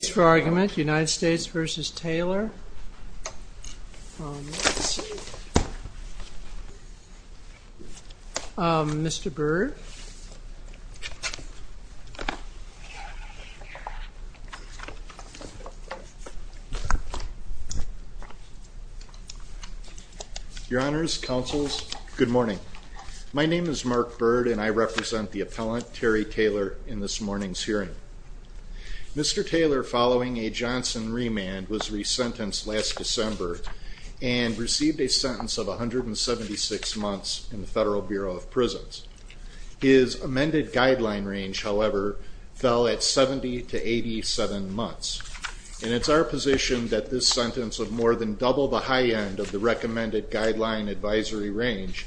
Thanks for your argument. United States v. Taylor. Mr. Byrd. Your Honors, Counsels, good morning. My name is Mark Byrd and I represent the appellant Terry Taylor in this morning's hearing. Mr. Taylor, following a Johnson remand, was resentenced last December and received a sentence of 176 months in the Federal Bureau of Prisons. His amended guideline range, however, fell at 70 to 87 months. And it's our position that this sentence of more than double the high end of the recommended guideline advisory range,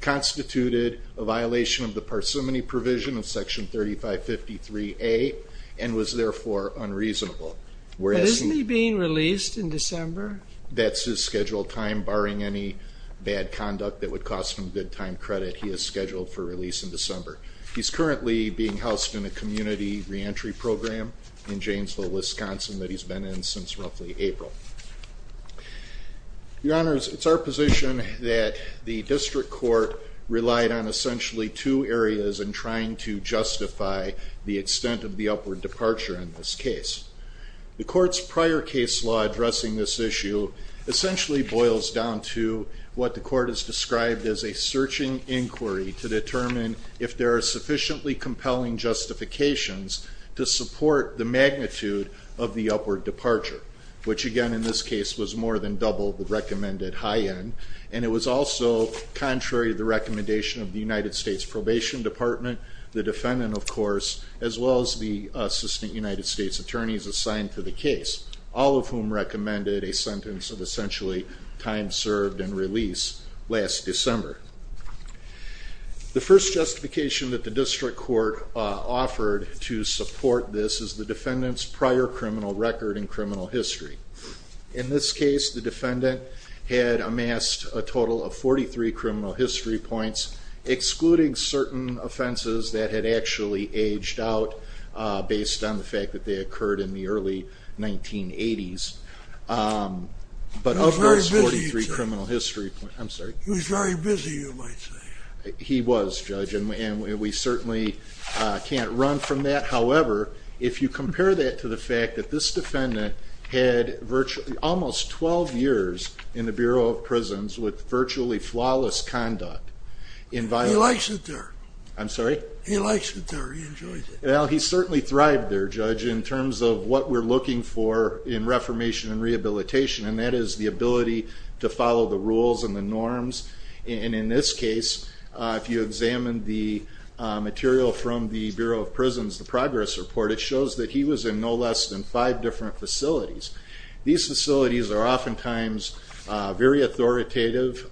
constituted a violation of the parsimony provision of Section 3553A and was therefore unreasonable. But isn't he being released in December? That's his scheduled time, barring any bad conduct that would cost him good time credit, he is scheduled for release in December. He's currently being housed in a community reentry program in Janesville, Wisconsin that he's been in since roughly April. Your Honors, it's our position that the district court relied on essentially two areas in trying to justify the extent of the upward departure in this case. The court's prior case law addressing this issue essentially boils down to what the court has described as a searching inquiry to determine if there are sufficiently compelling justifications to support the magnitude of the upward departure, which again in this case was more than double the recommended high end. And it was also contrary to the recommendation of the United States Probation Department, the defendant of course, as well as the Assistant United States Attorneys assigned to the case, all of whom recommended a sentence of essentially time served and release last December. The first justification that the district court offered to support this is the defendant's prior criminal record and criminal history. In this case, the defendant had amassed a total of 43 criminal history points, excluding certain offenses that had actually aged out based on the fact that they occurred in the early 1980s. But of those 43 criminal history points, I'm sorry? He was very busy you might say. He was, Judge, and we certainly can't run from that. However, if you compare that to the fact that this defendant had virtually almost 12 years in the Bureau of Prisons with virtually flawless conduct. He likes it there. I'm sorry? He likes it there. He enjoys it. Well, he certainly thrived there, Judge, in terms of what we're looking for in reformation and rehabilitation, and that is the ability to follow the rules and the norms. And in this case, if you examine the material from the Bureau of Prisons, the progress report, it shows that he was in no less than five different facilities. These facilities are oftentimes very authoritative.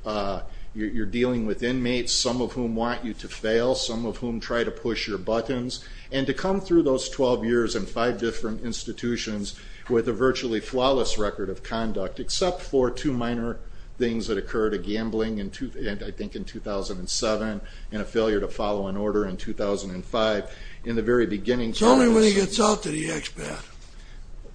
You're dealing with inmates, some of whom want you to fail, some of whom try to push your buttons. And to come through those 12 years in five different institutions with a virtually flawless record of conduct, except for two minor things that occurred, a gambling, I think in 2007, and a failure to follow an order in 2005. In the very beginning... It's only when he gets out to the expat.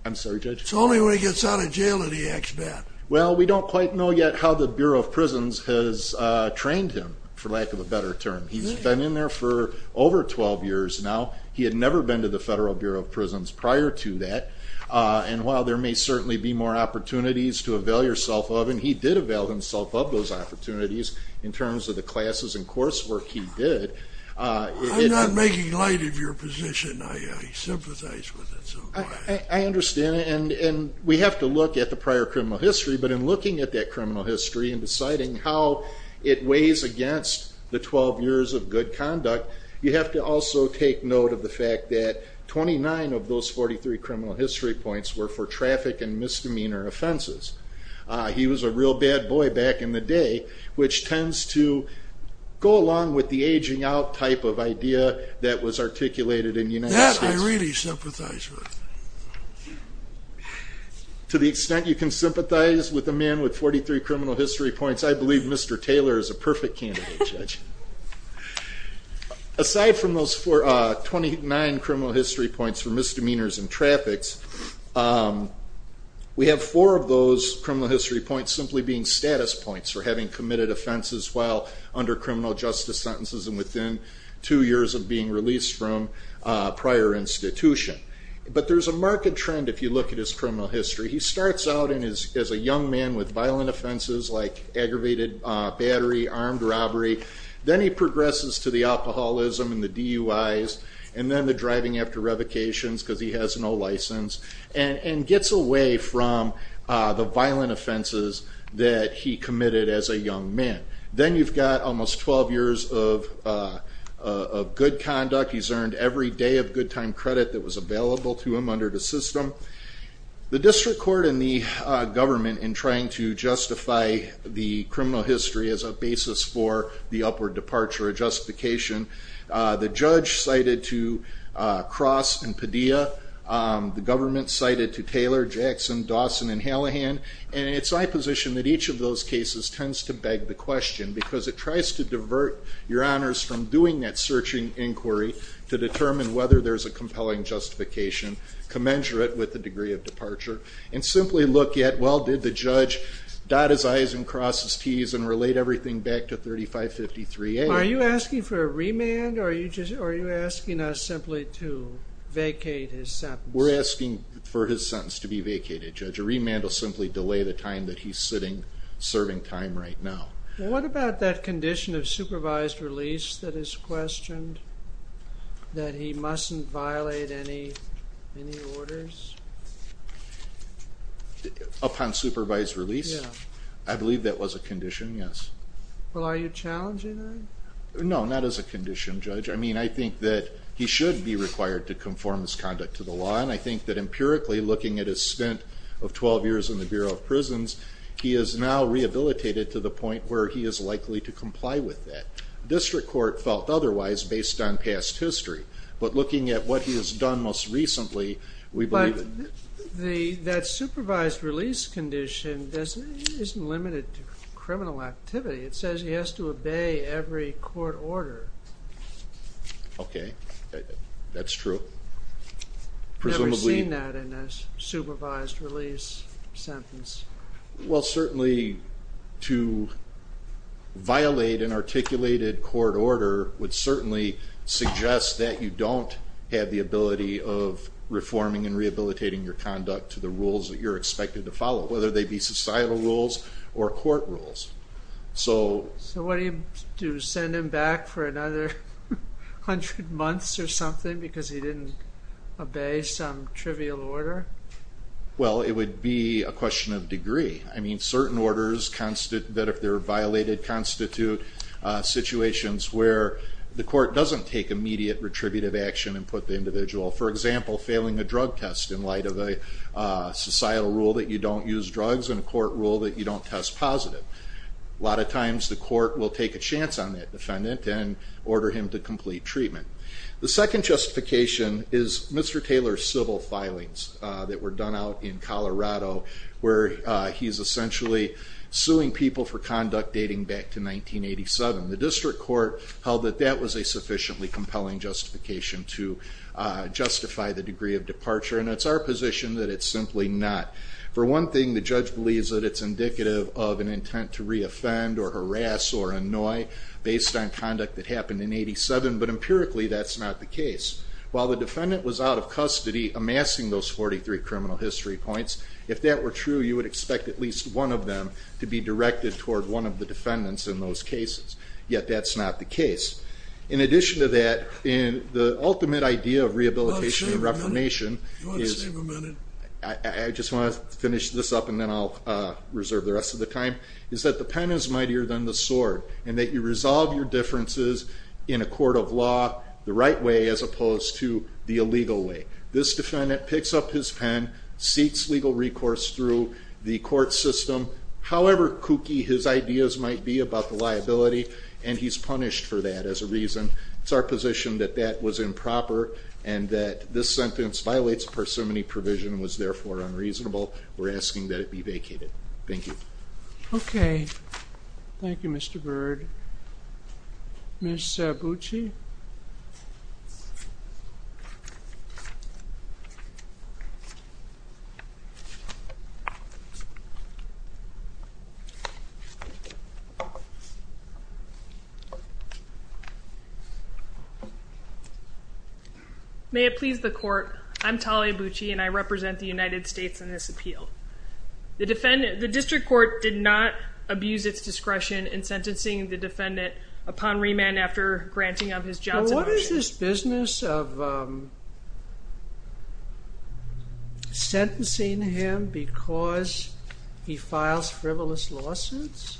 I'm sorry, Judge? It's only when he gets out of jail that he acts bad. Well, we don't quite know yet how the Bureau of Prisons has trained him, for lack of a better term. He's been in there for over 12 years now. He had never been to the Federal Bureau of Prisons prior to that. And while there may certainly be more opportunities to avail yourself of, and he did avail himself of those opportunities in terms of the classes and coursework he did... I'm not making light of your position. I sympathize with it so much. I understand. And we have to look at the prior criminal history, but in looking at that criminal history and deciding how it weighs against the 12 years of good conduct, you have to also take note of the fact that 29 of those 43 criminal history points were for traffic and misdemeanor offenses. He was a real bad boy back in the day, which tends to go along with the aging out type of idea that was articulated in the United States. That I really sympathize with. To the extent you can sympathize with a man with 43 criminal history points, I believe Mr. Taylor is a perfect candidate, Judge. Aside from those 29 criminal history points for misdemeanors and traffics, we have four of those criminal history points simply being status points for having committed offenses while under criminal justice sentences and within two years of being released from prior institution. But there's a market trend if you look at his criminal history. He starts out as a young man with violent offenses like aggravated battery, armed robbery. Then he progresses to the alcoholism and the DUIs and then the driving after revocations because he has no license and gets away from the violent offenses that he committed as a young man. Then you've got almost 12 years of good conduct. He's earned every day of good time credit that The district court and the government in trying to justify the criminal history as a basis for the upward departure of justification, the judge cited to Cross and Padilla. The government cited to Taylor, Jackson, Dawson, and Hallahan. And it's my position that each of those cases tends to beg the question because it tries to divert your honors from doing that searching inquiry to determine whether there's a compelling justification commensurate with the degree of departure and simply look at, well, did the judge dot his I's and cross his T's and relate everything back to 3553A? Are you asking for a remand or are you asking us simply to vacate his sentence? We're asking for his sentence to be vacated, Judge. A remand will simply delay the time that he's sitting serving time right now. What about that condition of supervised release that is questioned, that he mustn't violate any orders? Upon supervised release? I believe that was a condition, yes. Well, are you challenging that? No, not as a condition, Judge. I mean, I think that he should be required to conform his conduct to the law and I think that empirically looking at his spent of 12 years in the Bureau of Prisons, he is now rehabilitated to the point where he is likely to comply with that. District Court felt otherwise based on past history, but looking at what he has done most recently, we believe that... But that supervised release condition isn't limited to criminal activity. It says he has to obey every court order. Okay, that's true. Never seen that in a supervised release sentence. Well, certainly to violate an articulated court order would certainly suggest that you don't have the ability of reforming and rehabilitating your conduct to the rules that you're expected to follow, whether they be societal rules or court rules. So what do you do, send him back for another 100 months or something because he didn't obey some trivial order? Well, it would be a question of degree. I mean, certain orders that if they're violated constitute situations where the court doesn't take immediate retributive action and put the individual, for example, failing a drug test in light of a societal rule that you don't use drugs and a court rule that you don't test positive. A lot of times the court will take a chance on that defendant and order him to complete treatment. The second justification is Mr. Taylor's civil filings that were done out in Colorado where he's essentially suing people for conduct dating back to 1987. The district court held that that was a sufficiently compelling justification to justify the degree of departure and it's our position that it's simply not. For one thing, the judge believes that it's indicative of an intent to re-offend or harass or annoy based on conduct that happened in 1987, but empirically that's not the case. While the defendant was out of custody amassing those 43 criminal history points, if that were true you would expect at least one of them to be directed toward one of the defendants in those cases. Yet that's not the case. In addition to that, the ultimate idea of rehabilitation and reformation is I just want to finish this up and then I'll reserve the rest of the time, is that the pen is mightier than the sword and that you resolve your differences in a court of law the right way as opposed to the illegal way. This defendant picks up his pen, seeks legal recourse through the court system, however kooky his ideas might be about the liability and he's punished for that as a reason. It's our position that that was improper and that this sentence violates parsimony provision and was therefore unreasonable. We're asking that it be vacated. Thank you. Okay. Thank you Mr. Bird. Ms. Bucci? May it please the court, I'm Talia Bucci and I represent the United States in this appeal. The district court did not abuse its discretion in sentencing the defendant upon remand after granting of his Johnson version. What is this business of sentencing him because he files frivolous lawsuits?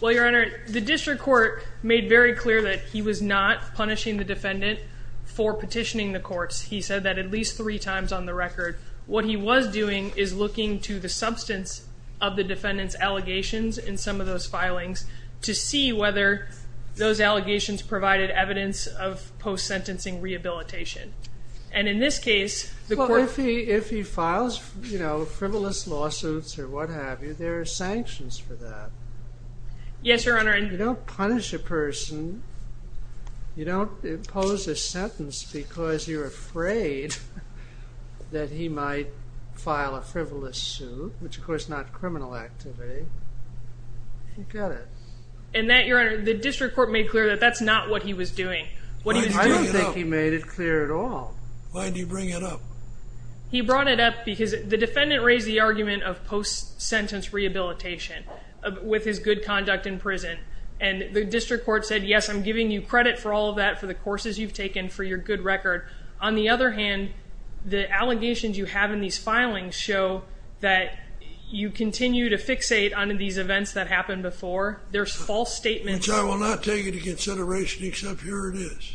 Well, your honor, the district court made very clear that he was not punishing the defendant for petitioning the courts. He said that at least three times on the record. What he was doing is looking to the substance of the defendant's allegations in some of those filings to see whether those allegations provided evidence of post-sentencing rehabilitation. If he files frivolous lawsuits or what have you, there are sanctions for that. Yes, your honor. You don't punish a person, you don't impose a sentence because you're afraid that he might file a frivolous suit, which of course is not criminal activity. You get it. And that, your honor, the district court made clear that that's not what he was doing. I don't think he made it clear at all. Why did he bring it up? He brought it up because the defendant raised the argument of post-sentence rehabilitation with his good conduct in prison. And the district court said, yes, I'm giving you credit for all of that, for the courses you've taken, for your good record. On the other hand, the allegations you have in these filings show that you continue to fixate on these events that happened before. There's false statements. Which I will not take into consideration except here it is.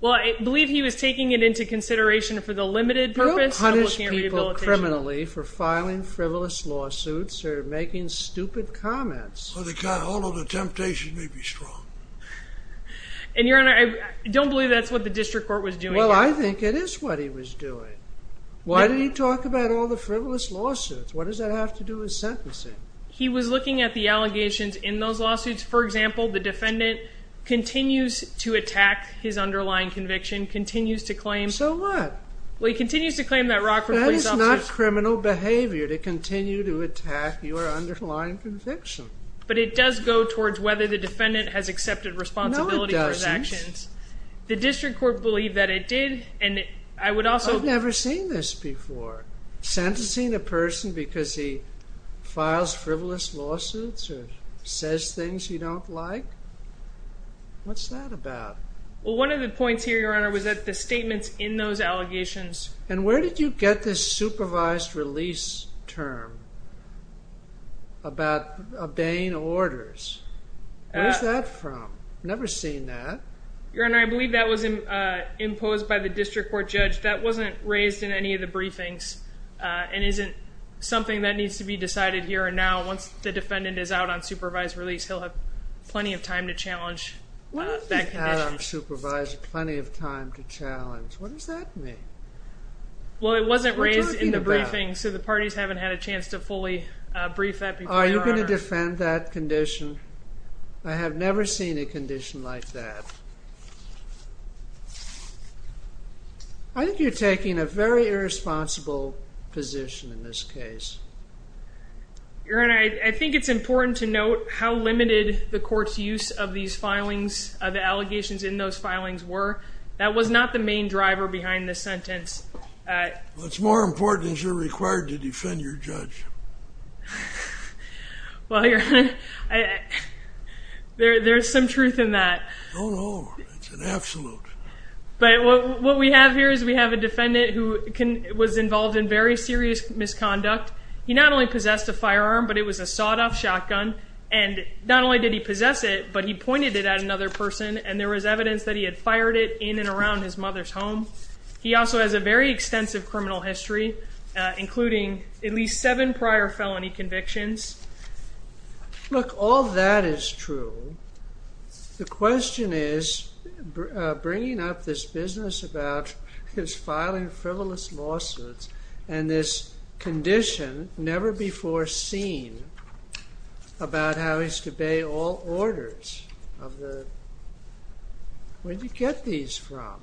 Well, I believe he was taking it into consideration for the limited purpose. You don't punish people criminally for filing frivolous lawsuits or making stupid comments. Well, the temptation may be strong. And, your honor, I don't believe that's what the district court was doing. Well, I think it is what he was doing. Why did he talk about all the frivolous lawsuits? What does that have to do with sentencing? He was looking at the allegations in those lawsuits. For example, the defendant continues to attack his underlying conviction, continues to claim... So what? Well, he continues to claim that Rockford... That is not criminal behavior to continue to attack your underlying conviction. But it does go towards whether the defendant has accepted responsibility for his actions. No, it doesn't. The district court believed that it did, and I would also... I've never seen this before. Sentencing a person because he files frivolous lawsuits or says things you don't like? What's that about? Well, one of the points here, your honor, was that the statements in those allegations... And where did you get this supervised release term about obeying orders? Where's that from? I've never seen that. Your honor, I believe that was imposed by the district court judge. That wasn't raised in any of the briefings and isn't something that needs to be decided here and now. Once the defendant is out on supervised release, he'll have plenty of time to challenge that condition. Out on supervised, plenty of time to challenge. What does that mean? Well, it wasn't raised in the briefing, so the parties haven't had a chance to fully brief that before, your honor. Are you going to defend that condition? I have never seen a condition like that. I think you're taking a very irresponsible position in this case. Your honor, I think it's important to note how limited the court's use of these filings, the allegations in those filings were. That was not the main driver behind this sentence. What's more important is you're required to defend your judge. Well, your honor, there's some truth in that. No, no, it's an absolute. But what we have here is we have a defendant who was involved in very serious misconduct. He not only possessed a firearm, but it was a sawed-off shotgun, and not only did he possess it, but he pointed it at another person, and there was evidence that he had fired it in and around his mother's home. He also has a very extensive criminal history, including at least seven prior felony convictions. Look, all that is true. The question is bringing up this business about his filing frivolous lawsuits and this condition never before seen about how he's to obey all orders of the – where'd you get these from?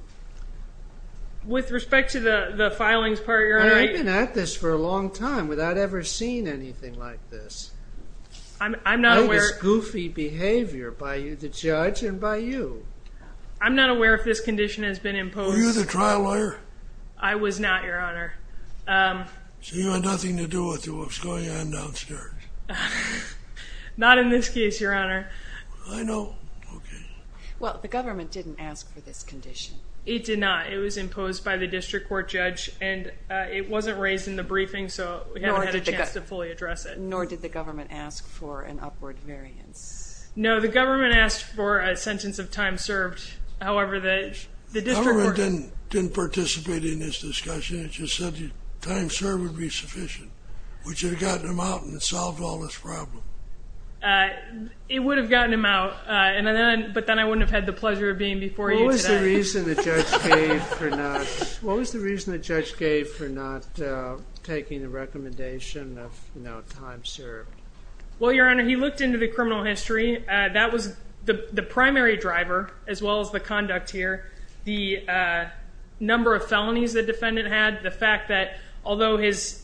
With respect to the filings part, your honor, I – I've been at this for a long time without ever seeing anything like this. I'm not aware – It was goofy behavior by you, the judge, and by you. I'm not aware if this condition has been imposed. Were you the trial lawyer? I was not, your honor. So you had nothing to do with what was going on downstairs? Not in this case, your honor. I know. Okay. Well, the government didn't ask for this condition. It did not. It was imposed by the district court judge, and it wasn't raised in the briefing, so we haven't had a chance to fully address it. Nor did the government ask for an upward variance. No, the government asked for a sentence of time served. However, the district court – The government didn't participate in this discussion. It just said time served would be sufficient, which would have gotten him out and solved all this problem. It would have gotten him out, but then I wouldn't have had the pleasure of being before you today. What was the reason the judge gave for not taking the recommendation of time served? Well, your honor, he looked into the criminal history. That was the primary driver, as well as the conduct here, the number of felonies the defendant had, the fact that although his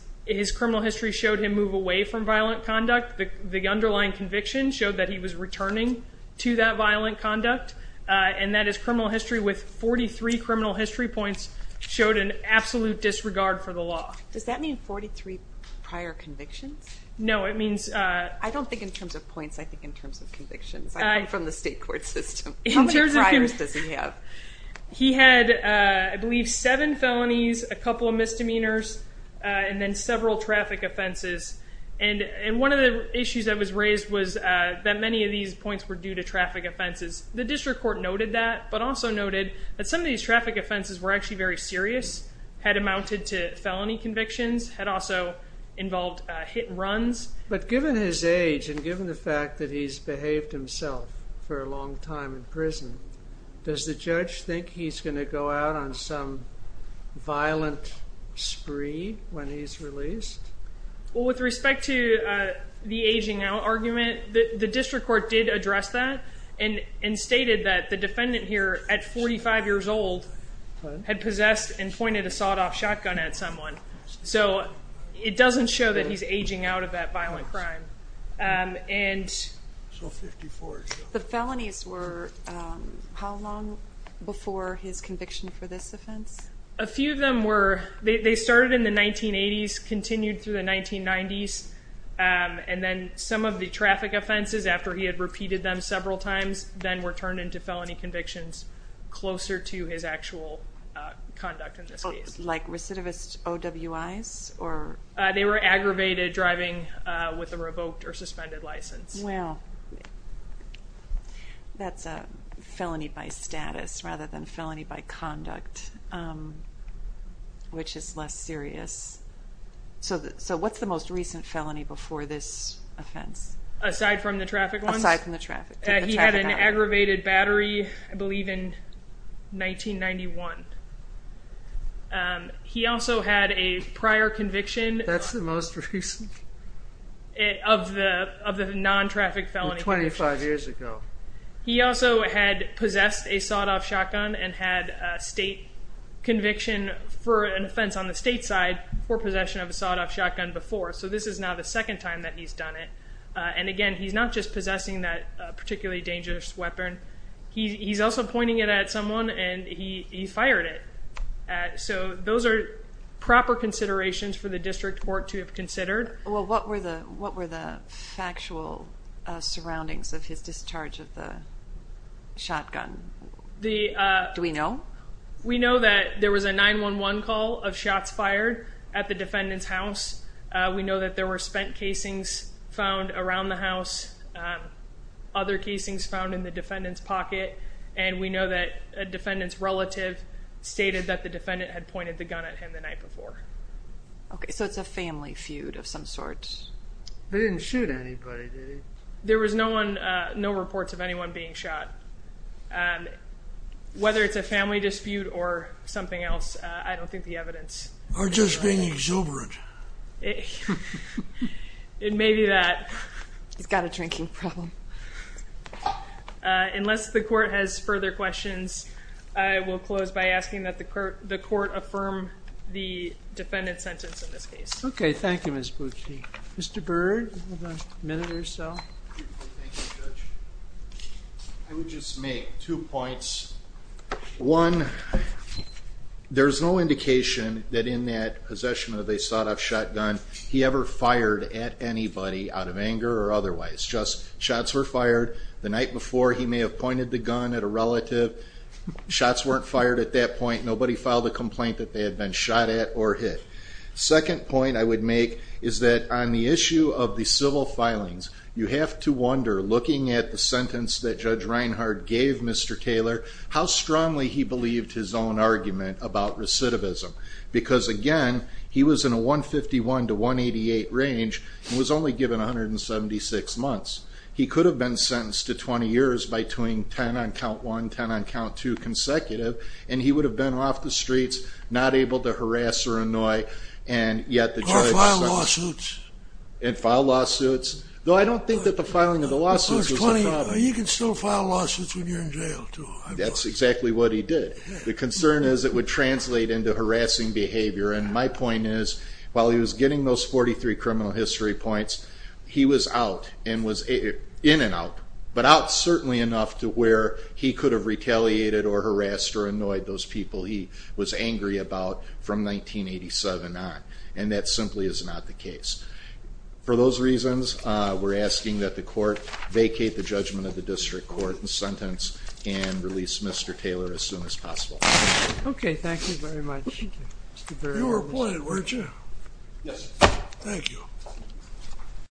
criminal history showed him move away from violent conduct, the underlying conviction showed that he was returning to that violent conduct, and that his criminal history with 43 criminal history points showed an absolute disregard for the law. Does that mean 43 prior convictions? No, it means – I don't think in terms of points. I think in terms of convictions. I come from the state court system. How many priors does he have? He had, I believe, seven felonies, a couple of misdemeanors, and then several traffic offenses, and one of the issues that was raised was that many of these points were due to traffic offenses. The district court noted that, but also noted that some of these traffic offenses were actually very serious, had amounted to felony convictions, had also involved hit and runs. But given his age and given the fact that he's behaved himself for a long time in prison, does the judge think he's going to go out on some violent spree when he's released? Well, with respect to the aging out argument, the district court did address that, and stated that the defendant here at 45 years old had possessed and pointed a sawed-off shotgun at someone. So it doesn't show that he's aging out of that violent crime. The felonies were how long before his conviction for this offense? A few of them were – they started in the 1980s, continued through the 1990s, and then some of the traffic offenses, after he had repeated them several times, then were turned into felony convictions closer to his actual conduct in this case. Like recidivist OWIs? They were aggravated driving with a revoked or suspended license. Well, that's a felony by status rather than felony by conduct, which is less serious. So what's the most recent felony before this offense? Aside from the traffic ones? Aside from the traffic. He had an aggravated battery, I believe, in 1991. He also had a prior conviction. That's the most recent. Of the non-traffic felony convictions. 25 years ago. He also had possessed a sawed-off shotgun and had a state conviction for an offense on the state side for possession of a sawed-off shotgun before. So this is now the second time that he's done it. And, again, he's not just possessing that particularly dangerous weapon. He's also pointing it at someone, and he fired it. So those are proper considerations for the district court to have considered. Well, what were the factual surroundings of his discharge of the shotgun? Do we know? We know that there was a 911 call of shots fired at the defendant's house. We know that there were spent casings found around the house, other casings found in the defendant's pocket, and we know that a defendant's relative stated that the defendant had pointed the gun at him the night before. Okay, so it's a family feud of some sort. He didn't shoot anybody, did he? There was no reports of anyone being shot. Whether it's a family dispute or something else, I don't think the evidence. Or just being exuberant. It may be that. He's got a drinking problem. Unless the court has further questions, I will close by asking that the court affirm the defendant's sentence in this case. Okay, thank you, Ms. Boushey. Mr. Byrd, you have a minute or so. Thank you, Judge. I would just make two points. One, there's no indication that in that possession of a sawed-off shotgun, he ever fired at anybody out of anger or otherwise. Just shots were fired the night before. He may have pointed the gun at a relative. Shots weren't fired at that point. Nobody filed a complaint that they had been shot at or hit. Second point I would make is that on the issue of the civil filings, you have to wonder, looking at the sentence that Judge Reinhard gave Mr. Taylor, how strongly he believed his own argument about recidivism. Because, again, he was in a 151 to 188 range and was only given 176 months. He could have been sentenced to 20 years by doing 10 on count one, 10 on count two consecutive, and he would have been off the streets, not able to harass or annoy, and yet the judge sentenced him. Or file lawsuits. And file lawsuits. Though I don't think that the filing of the lawsuits was a problem. You can still file lawsuits when you're in jail, too. That's exactly what he did. The concern is it would translate into harassing behavior, and my point is while he was getting those 43 criminal history points, he was out and was in and out, but out certainly enough to where he could have retaliated or harassed or annoyed those people he was angry about from 1987 on. And that simply is not the case. For those reasons, we're asking that the court vacate the judgment of the district court and sentence and release Mr. Taylor as soon as possible. Okay, thank you very much. You were playing, weren't you? Yes. Thank you. Thank you.